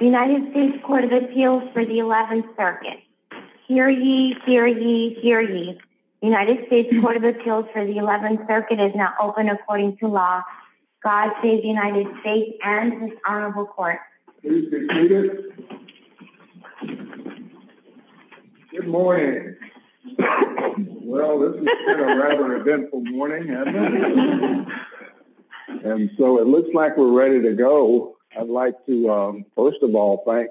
United States Court of Appeals for the 11th Circuit. Hear ye, hear ye, hear ye. United States Court of Appeals for the 11th Circuit is now open according to law. God save the United States and His Honorable Court. Please be seated. Good morning. Well, this has been a rather eventful morning, hasn't it? And so it looks like we're ready to go. I'd like to, first of all, thank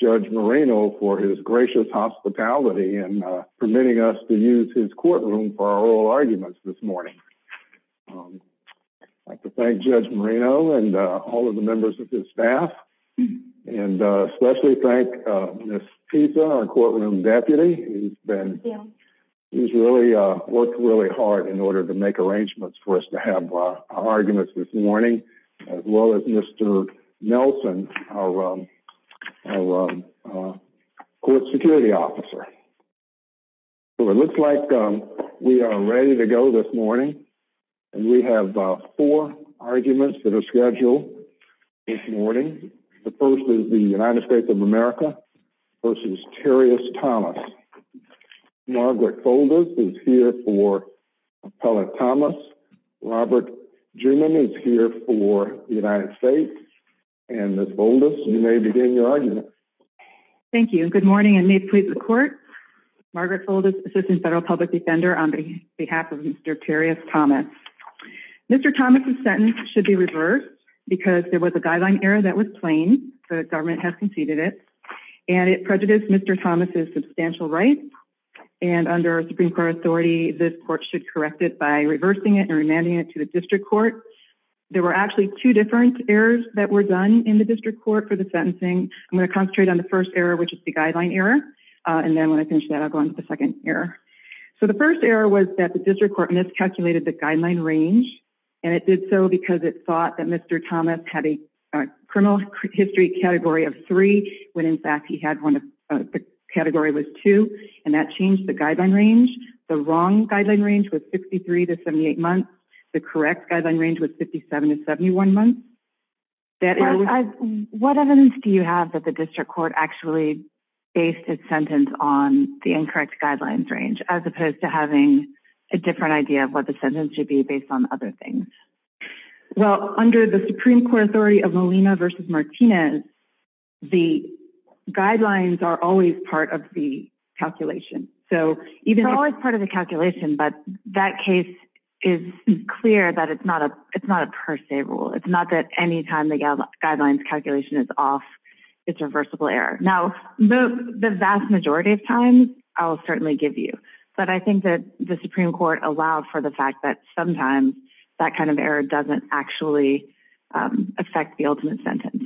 Judge Marino for his gracious hospitality in permitting us to use his courtroom for our oral arguments this morning. I'd like to thank Judge Marino and all of the members of his staff, and especially thank Miss Pisa, our courtroom deputy. He's worked really hard in order to make arrangements for us to have our arguments this morning, as well as Mr. Nelson, our court security officer. So it looks like we are ready to go this morning, and we have four arguments that are scheduled this morning. The first is the United States of America v. Terius Thomas. Margaret Foldis is here for Appellate Thomas. Robert Jewman is here for the United States. And Miss Foldis, you may begin your argument. Thank you, and good morning, and may it please the Court. Margaret Foldis, Assistant Federal Public Defender, on behalf of Mr. Terius Thomas. Mr. Thomas' sentence should be reversed because there was a guideline error that was plain. The government has conceded it, and it prejudiced Mr. Thomas' substantial rights. And under Supreme Court authority, this Court should correct it by reversing it and remanding it to the District Court. There were actually two different errors that were done in the District Court for the sentencing. I'm going to concentrate on the first error, which is the guideline error, and then when I finish that, I'll go on to the second error. So the first error was that the District Court miscalculated the guideline range, and it did so because it thought that Mr. Thomas had a criminal history category of three, when in fact he had one of – the category was two, and that changed the guideline range. The wrong guideline range was 63 to 78 months. The correct guideline range was 57 to 71 months. What evidence do you have that the District Court actually based its sentence on the incorrect guidelines range, as opposed to having a different idea of what the sentence should be based on other things? Well, under the Supreme Court authority of Molina v. Martinez, the guidelines are always part of the calculation. It's always part of the calculation, but that case is clear that it's not a per se rule. It's not that any time the guidelines calculation is off, it's a reversible error. Now, the vast majority of times, I'll certainly give you, but I think that the Supreme Court allowed for the fact that sometimes that kind of error doesn't actually affect the ultimate sentence.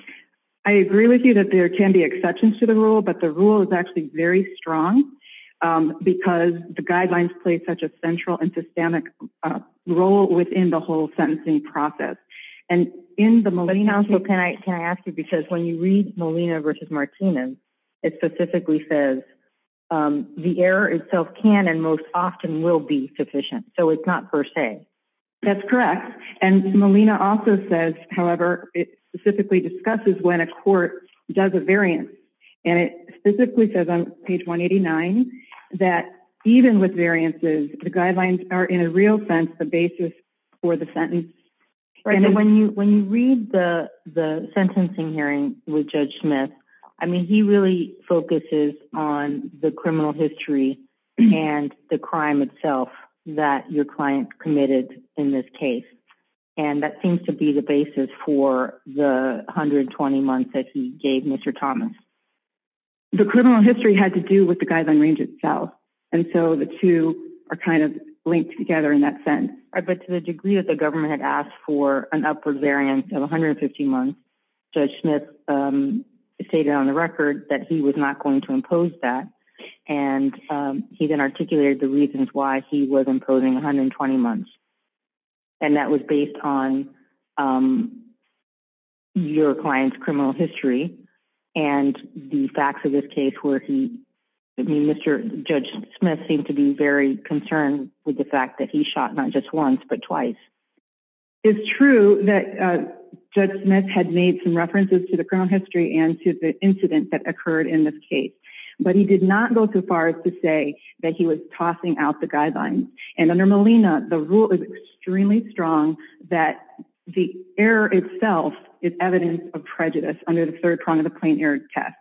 I agree with you that there can be exceptions to the rule, but the rule is actually very strong because the guidelines play such a central and systemic role within the whole sentencing process. Can I ask you, because when you read Molina v. Martinez, it specifically says the error itself can and most often will be sufficient, so it's not per se. That's correct. Molina also says, however, it specifically discusses when a court does a variance, and it specifically says on page 189 that even with variances, the guidelines are in a real sense the basis for the sentence. When you read the sentencing hearing with Judge Smith, he really focuses on the criminal history and the crime itself that your client committed in this case, and that seems to be the basis for the 120 months that he gave Mr. Thomas. The criminal history had to do with the guideline range itself, and so the two are kind of linked together in that sense. But to the degree that the government had asked for an upward variance of 150 months, Judge Smith stated on the record that he was not going to impose that, and he then articulated the reasons why he was imposing 120 months, and that was based on your client's criminal history and the facts of this case. Mr. Judge Smith seemed to be very concerned with the fact that he shot not just once but twice. It's true that Judge Smith had made some references to the criminal history and to the incident that occurred in this case, but he did not go too far as to say that he was tossing out the guidelines, and under Molina, the rule is extremely strong that the error itself is evidence of prejudice under the third prong of the plain error test,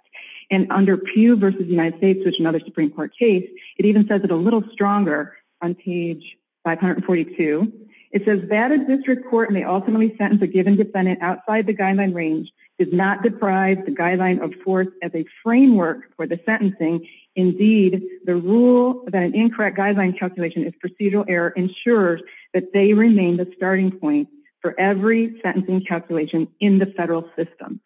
and under Pew v. United States, which is another Supreme Court case, it even says it a little stronger on page 542. It says that a district court may ultimately sentence a given defendant outside the guideline range does not deprive the guideline of force as a framework for the sentencing. Indeed, the rule that an incorrect guideline calculation is procedural error ensures that they remain the starting point for every sentencing calculation in the federal system.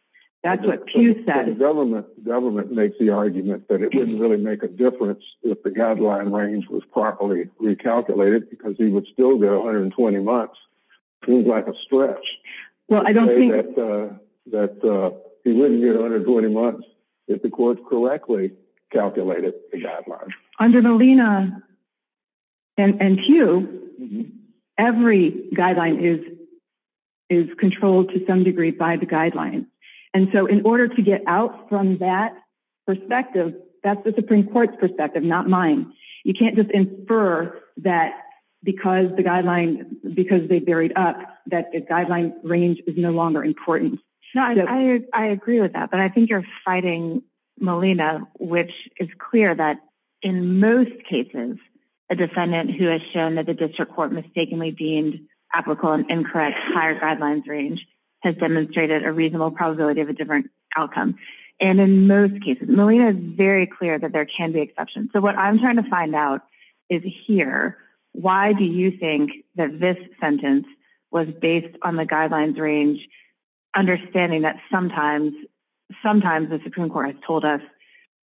That's what Pew said. The government makes the argument that it wouldn't really make a difference if the guideline range was properly recalculated because he would still get 120 months. It seems like a stretch to say that he wouldn't get 120 months if the court correctly calculated the guideline. Under Molina and Pew, every guideline is controlled to some degree by the guidelines, and so in order to get out from that perspective, that's the Supreme Court's perspective, not mine. You can't just infer that because they buried up that the guideline range is no longer important. I agree with that, but I think you're fighting Molina, which is clear that in most cases, a defendant who has shown that the district court mistakenly deemed applicable and incorrect higher guidelines range has demonstrated a reasonable probability of a different outcome. And in most cases, Molina is very clear that there can be exceptions. So what I'm trying to find out is here, why do you think that this sentence was based on the guidelines range, understanding that sometimes the Supreme Court has told us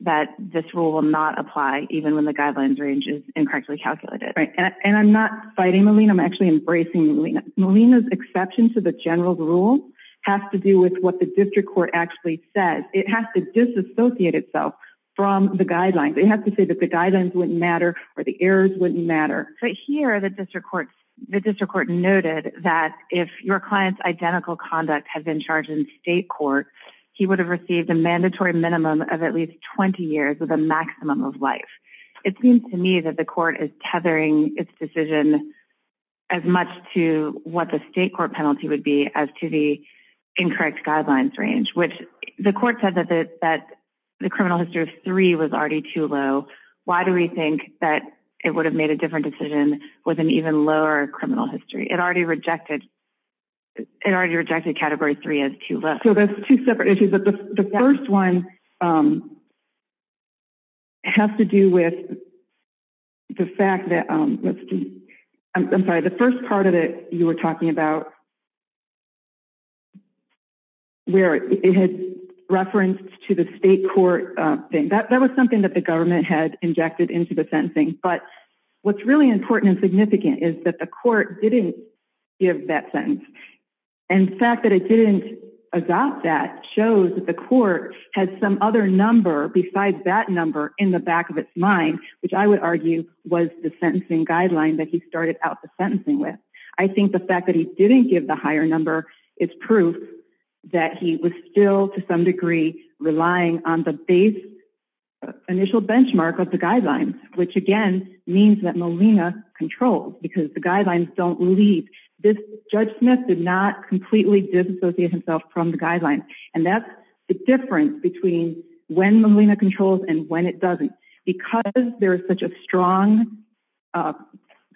that this rule will not apply even when the guidelines range is incorrectly calculated. And I'm not fighting Molina, I'm actually embracing Molina. Molina's exception to the general rule has to do with what the district court actually says. It has to disassociate itself from the guidelines. It has to say that the guidelines wouldn't matter or the errors wouldn't matter. But here, the district court noted that if your client's identical conduct had been charged in state court, he would have received a mandatory minimum of at least 20 years with a maximum of life. It seems to me that the court is tethering its decision as much to what the state court penalty would be as to the incorrect guidelines range, which the court said that the criminal history of three was already too low. Why do we think that it would have made a different decision with an even lower criminal history? It already rejected category three as too low. So there's two separate issues. The first one has to do with the fact that, I'm sorry, the first part of it you were talking about where it had referenced to the state court thing. That was something that the government had injected into the sentencing. But what's really important and significant is that the court didn't give that sentence. And the fact that it didn't adopt that shows that the court had some other number besides that number in the back of its mind, which I would argue was the sentencing guideline that he started out the sentencing with. I think the fact that he didn't give the higher number is proof that he was still, to some degree, relying on the base initial benchmark of the guidelines, which, again, means that Molina controls because the guidelines don't leave. Judge Smith did not completely disassociate himself from the guidelines. And that's the difference between when Molina controls and when it doesn't. Because there is such a strong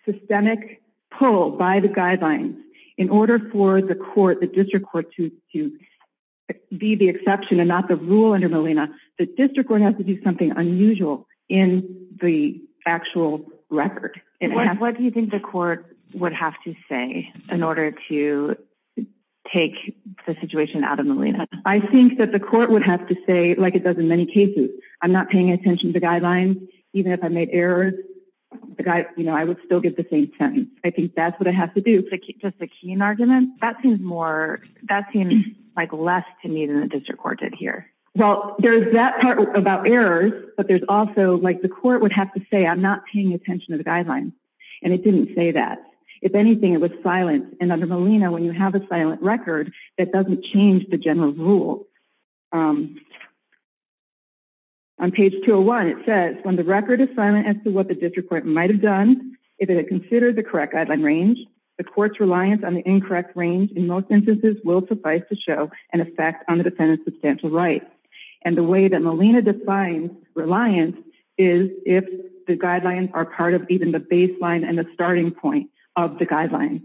systemic pull by the guidelines, in order for the court, the district court, to be the exception and not the rule under Molina, the district court has to do something unusual in the actual record. What do you think the court would have to say in order to take the situation out of Molina? I think that the court would have to say, like it does in many cases, I'm not paying attention to the guidelines. Even if I made errors, I would still get the same sentence. I think that's what I have to do. Does the Keene argument? That seems like less to me than the district court did here. Well, there's that part about errors, but there's also, like the court would have to say, I'm not paying attention to the guidelines. And it didn't say that. If anything, it was silent. And under Molina, when you have a silent record, that doesn't change the general rule. On page 201, it says, when the record is silent as to what the district court might have done, if it had considered the correct guideline range, the court's reliance on the incorrect range in most instances will suffice to show an effect on the defendant's substantial rights. And the way that Molina defines reliance is if the guidelines are part of even the baseline and the starting point of the guidelines.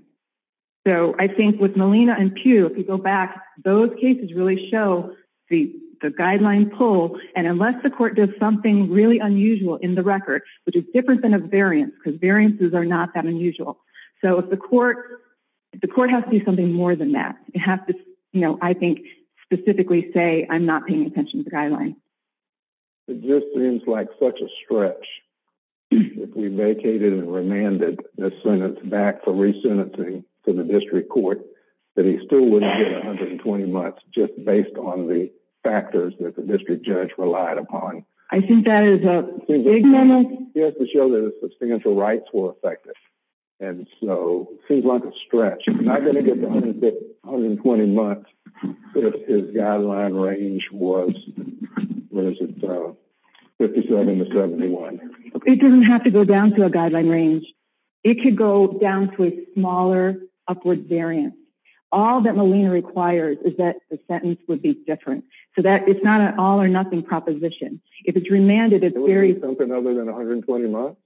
So I think with Molina and Pew, if you go back, those cases really show the guideline pull, and unless the court does something really unusual in the record, which is different than a variance, because variances are not that unusual. So the court has to do something more than that. It has to, I think, specifically say, I'm not paying attention to the guidelines. It just seems like such a stretch. If we vacated and remanded the sentence back for resentencing to the district court, that he still wouldn't get 120 months just based on the factors that the district judge relied upon. I think that is a big moment. He has to show that his substantial rights were affected. And so it seems like a stretch. He's not going to get 120 months if his guideline range was 57 to 71. It doesn't have to go down to a guideline range. It could go down to a smaller upward variance. All that Molina requires is that the sentence would be different. So it's not an all-or-nothing proposition. If it's remanded, it's very – It would be something other than 120 months?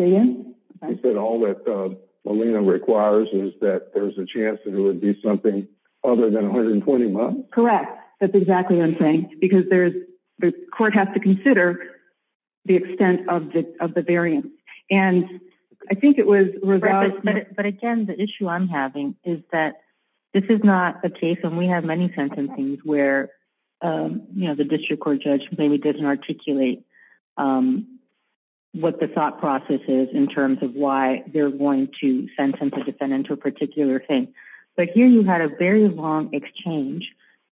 Say again? You said all that Molina requires is that there's a chance that it would be something other than 120 months? Correct. That's exactly what I'm saying. Because the court has to consider the extent of the variance. And I think it was – But, again, the issue I'm having is that this is not a case, and we have many sentencings where the district court judge maybe doesn't articulate what the thought process is in terms of why they're going to sentence a defendant to a particular thing. But here you had a very long exchange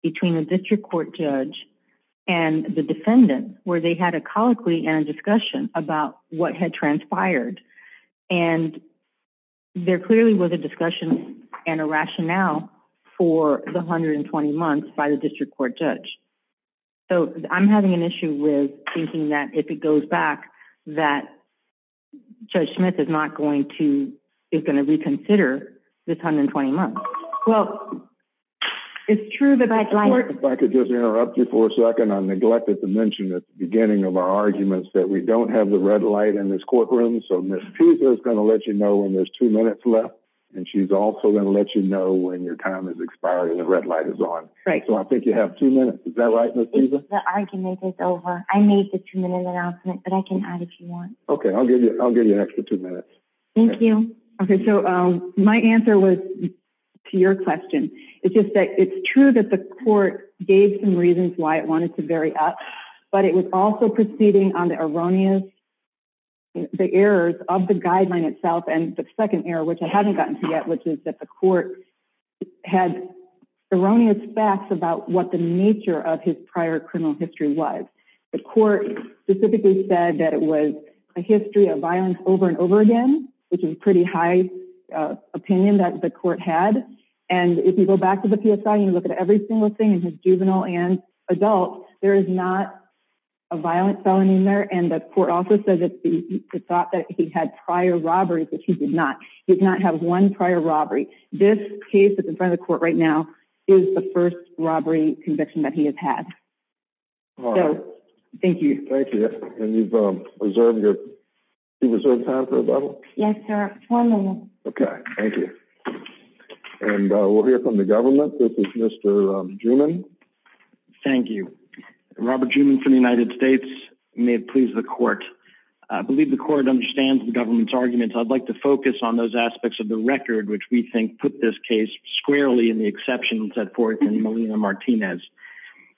between a district court judge and the defendant where they had a colloquy and a discussion about what had transpired. And there clearly was a discussion and a rationale for the 120 months by the district court judge. So I'm having an issue with thinking that if it goes back, that Judge Smith is not going to – is going to reconsider this 120 months. Well, it's true that – If I could just interrupt you for a second. I neglected to mention at the beginning of our arguments that we don't have the red light in this courtroom. So Ms. Pisa is going to let you know when there's two minutes left. And she's also going to let you know when your time has expired and the red light is on. Right. So I think you have two minutes. Is that right, Ms. Pisa? The argument is over. I made the two-minute announcement, but I can add if you want. Okay, I'll give you an extra two minutes. Thank you. Okay, so my answer was to your question. It's just that it's true that the court gave some reasons why it wanted to vary up. But it was also proceeding on the errors of the guideline itself. And the second error, which I haven't gotten to yet, which is that the court had erroneous facts about what the nature of his prior criminal history was. The court specifically said that it was a history of violence over and over again, which is a pretty high opinion that the court had. And if you go back to the PSI and you look at every single thing in his juvenile and adult, there is not a violent felony in there. And the court also said that it's thought that he had prior robberies, which he did not. He did not have one prior robbery. This case that's in front of the court right now is the first robbery conviction that he has had. All right. So thank you. Thank you. And you've reserved your time for a bubble? Yes, sir. One moment. Okay. Thank you. And we'll hear from the government. This is Mr. Juman. Thank you. Robert Juman from the United States. May it please the court. I believe the court understands the government's arguments. I'd like to focus on those aspects of the record, which we think put this case squarely in the exceptions of Forth and Molina-Martinez.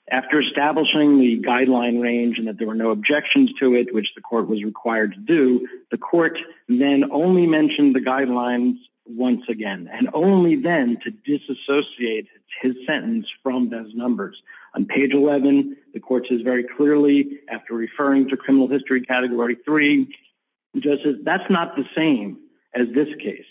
After establishing the guideline range and that there were no objections to it, which the court was required to do, the court then only mentioned the guidelines once again. And only then to disassociate his sentence from those numbers. On page 11, the court says very clearly, after referring to criminal history category 3, that's not the same as this case.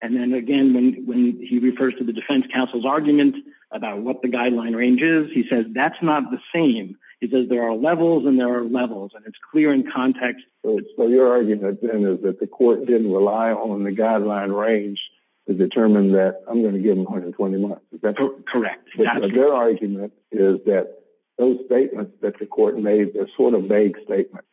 And then again, when he refers to the defense counsel's argument about what the guideline range is, he says that's not the same. He says there are levels and there are levels. And it's clear in context. So your argument then is that the court didn't rely on the guideline range to determine that I'm going to give him 120 months. Correct. Their argument is that those statements that the court made are sort of vague statements.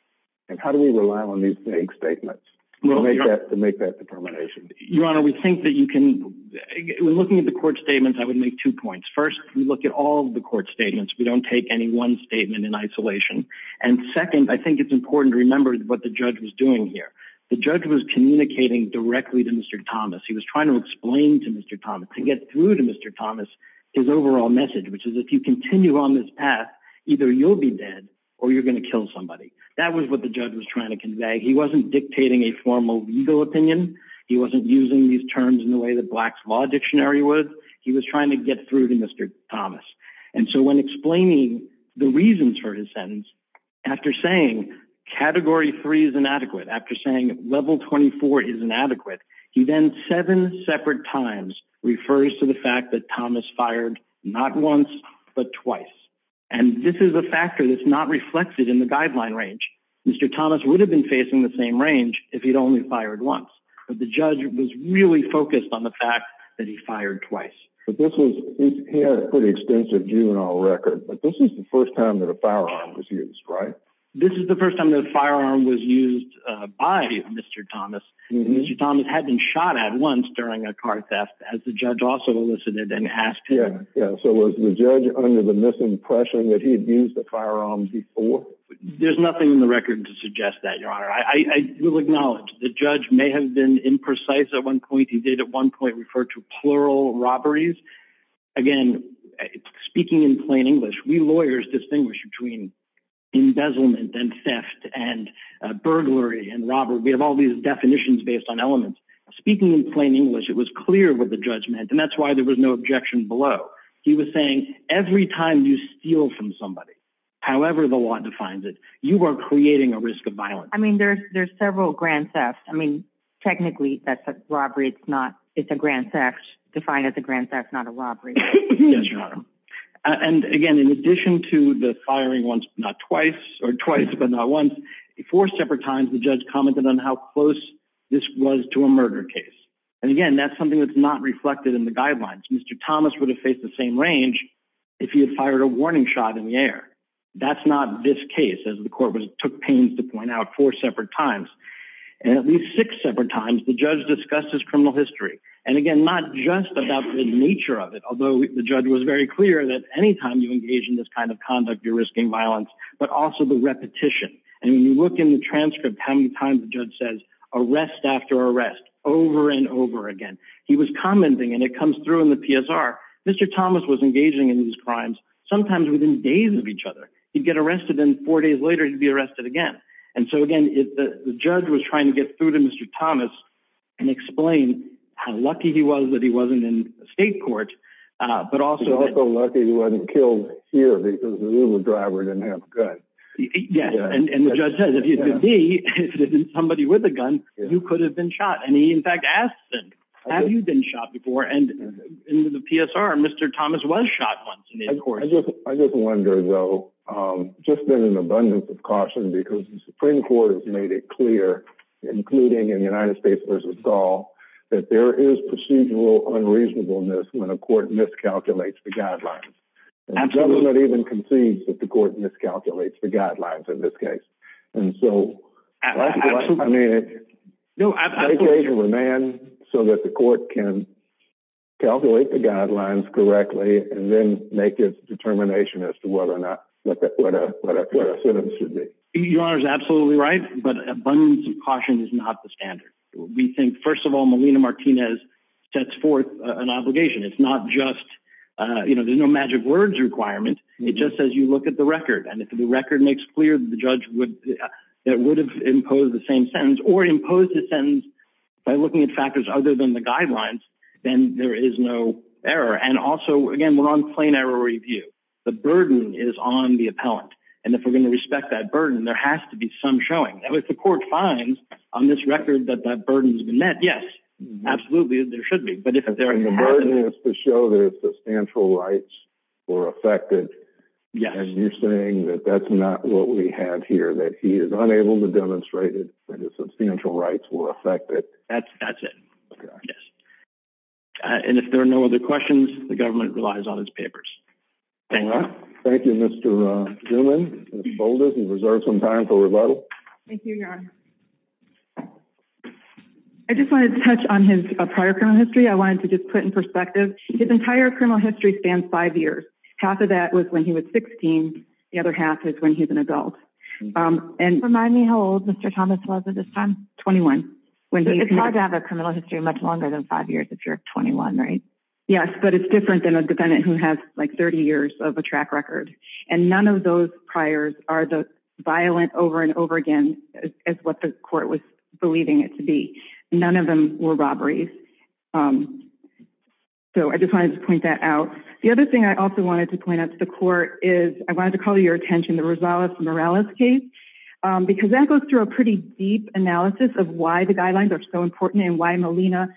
And how do we rely on these vague statements to make that determination? Your Honor, we think that you can – when looking at the court statements, I would make two points. First, we look at all of the court statements. We don't take any one statement in isolation. And second, I think it's important to remember what the judge was doing here. The judge was communicating directly to Mr. Thomas. He was trying to explain to Mr. Thomas, to get through to Mr. Thomas, his overall message, which is if you continue on this path, either you'll be dead or you're going to kill somebody. That was what the judge was trying to convey. He wasn't dictating a formal legal opinion. He wasn't using these terms in the way that Black's Law Dictionary would. He was trying to get through to Mr. Thomas. And so when explaining the reasons for his sentence, after saying Category 3 is inadequate, after saying Level 24 is inadequate, he then seven separate times refers to the fact that Thomas fired not once but twice. And this is a factor that's not reflected in the guideline range. Mr. Thomas would have been facing the same range if he'd only fired once. But the judge was really focused on the fact that he fired twice. But this was, he had a pretty extensive juvenile record. But this is the first time that a firearm was used, right? This is the first time that a firearm was used by Mr. Thomas. And Mr. Thomas had been shot at once during a car theft, as the judge also elicited and asked him. Yeah, so was the judge under the misimpression that he had used a firearm before? There's nothing in the record to suggest that, Your Honor. I will acknowledge the judge may have been imprecise at one point. He did at one point refer to plural robberies. Again, speaking in plain English, we lawyers distinguish between embezzlement and theft and burglary and robbery. We have all these definitions based on elements. Speaking in plain English, it was clear what the judge meant. And that's why there was no objection below. He was saying every time you steal from somebody, however the law defines it, you are creating a risk of violence. I mean, there's several grand thefts. I mean, technically, that's a robbery. It's not, it's a grand theft. Defined as a grand theft, not a robbery. Yes, Your Honor. And again, in addition to the firing once, not twice, or twice but not once, four separate times, the judge commented on how close this was to a murder case. And again, that's something that's not reflected in the guidelines. Mr. Thomas would have faced the same range if he had fired a warning shot in the air. That's not this case, as the court took pains to point out, four separate times. And at least six separate times, the judge discussed his criminal history. And again, not just about the nature of it, although the judge was very clear that any time you engage in this kind of conduct, you're risking violence, but also the repetition. And when you look in the transcript, how many times the judge says, arrest after arrest, over and over again. He was commenting, and it comes through in the PSR. Mr. Thomas was engaging in these crimes, sometimes within days of each other. He'd get arrested, and four days later, he'd be arrested again. And so again, the judge was trying to get through to Mr. Thomas and explain how lucky he was that he wasn't in state court, but also that— He's also lucky he wasn't killed here because the Uber driver didn't have a gun. Yes, and the judge says, if it had been somebody with a gun, you could have been shot. And he, in fact, asks them, have you been shot before? And in the PSR, Mr. Thomas was shot once. I just wonder, though, just in an abundance of caution, because the Supreme Court has made it clear, including in United States v. Saul, that there is procedural unreasonableness when a court miscalculates the guidelines. And the government even concedes that the court miscalculates the guidelines in this case. And so— Absolutely. No, absolutely. I think they should remand so that the court can calculate the guidelines correctly and then make its determination as to what a sentence should be. Your Honor is absolutely right, but abundance of caution is not the standard. We think, first of all, Melina Martinez sets forth an obligation. It's not just—you know, there's no magic words requirement. It just says you look at the record. And if the record makes clear that the judge would have imposed the same sentence or imposed a sentence by looking at factors other than the guidelines, then there is no error. And also, again, we're on plain error review. The burden is on the appellant. And if we're going to respect that burden, there has to be some showing. And if the court finds on this record that that burden has been met, yes, absolutely, there should be. And the burden is to show that his substantial rights were affected. Yes. And you're saying that that's not what we have here, that he is unable to demonstrate that his substantial rights were affected. That's it. Okay. Yes. And if there are no other questions, the government relies on its papers. Thank you. Thank you, Mr. Zuman. Ms. Bolden, you reserve some time for rebuttal. Thank you, Your Honor. I just wanted to touch on his prior criminal history. I wanted to just put in perspective. His entire criminal history spans five years. Half of that was when he was 16. The other half is when he was an adult. Remind me how old Mr. Thomas was at this time. 21. It's hard to have a criminal history much longer than five years if you're 21, right? Yes, but it's different than a defendant who has, like, 30 years of a track record. And none of those priors are as violent over and over again as what the court was believing it to be. None of them were robberies. So I just wanted to point that out. The other thing I also wanted to point out to the court is I wanted to call your attention to Rosales Morales' case because that goes through a pretty deep analysis of why the guidelines are so important and why Molina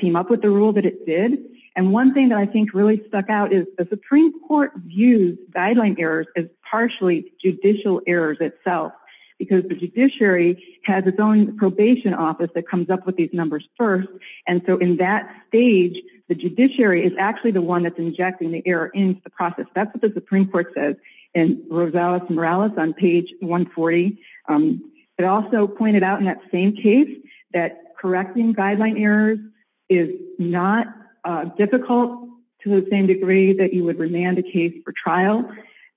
came up with the rule that it did. And one thing that I think really stuck out is the Supreme Court views guideline errors as partially judicial errors itself because the judiciary has its own probation office that comes up with these numbers first. And so in that stage, the judiciary is actually the one that's injecting the error into the process. That's what the Supreme Court says in Rosales Morales on page 140. It also pointed out in that same case that correcting guideline errors is not difficult to the same degree that you would remand a case for trial.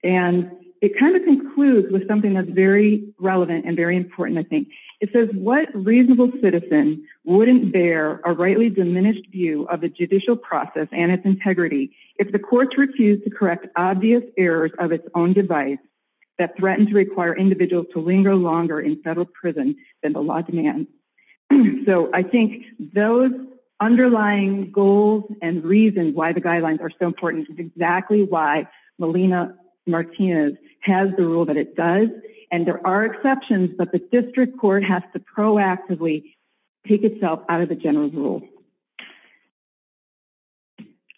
And it kind of concludes with something that's very relevant and very important, I think. It says, what reasonable citizen wouldn't bear a rightly diminished view of the judicial process and its integrity if the courts refused to correct obvious errors of its own device that threatened to require individuals to linger longer in federal prison than the law demands? So I think those underlying goals and reasons why the guidelines are so important is exactly why Molina Martinez has the rule that it does. And there are exceptions, but the district court has to proactively take itself out of the general rule.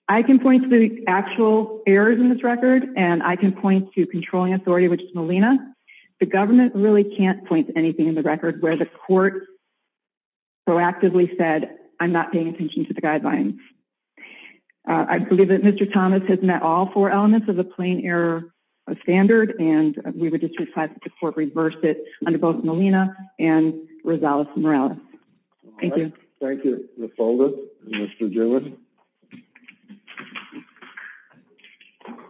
I can point to the actual errors in this record and I can point to controlling authority, which is Molina. The government really can't point to anything in the record where the court proactively said, I'm not paying attention to the guidelines. I believe that Mr. Thomas has met all four elements of the plain error standard, and we would just request that the court reverse it under both Molina and Rosales Morales. Thank you. Thank you, Ms. Holder and Mr. Dillon.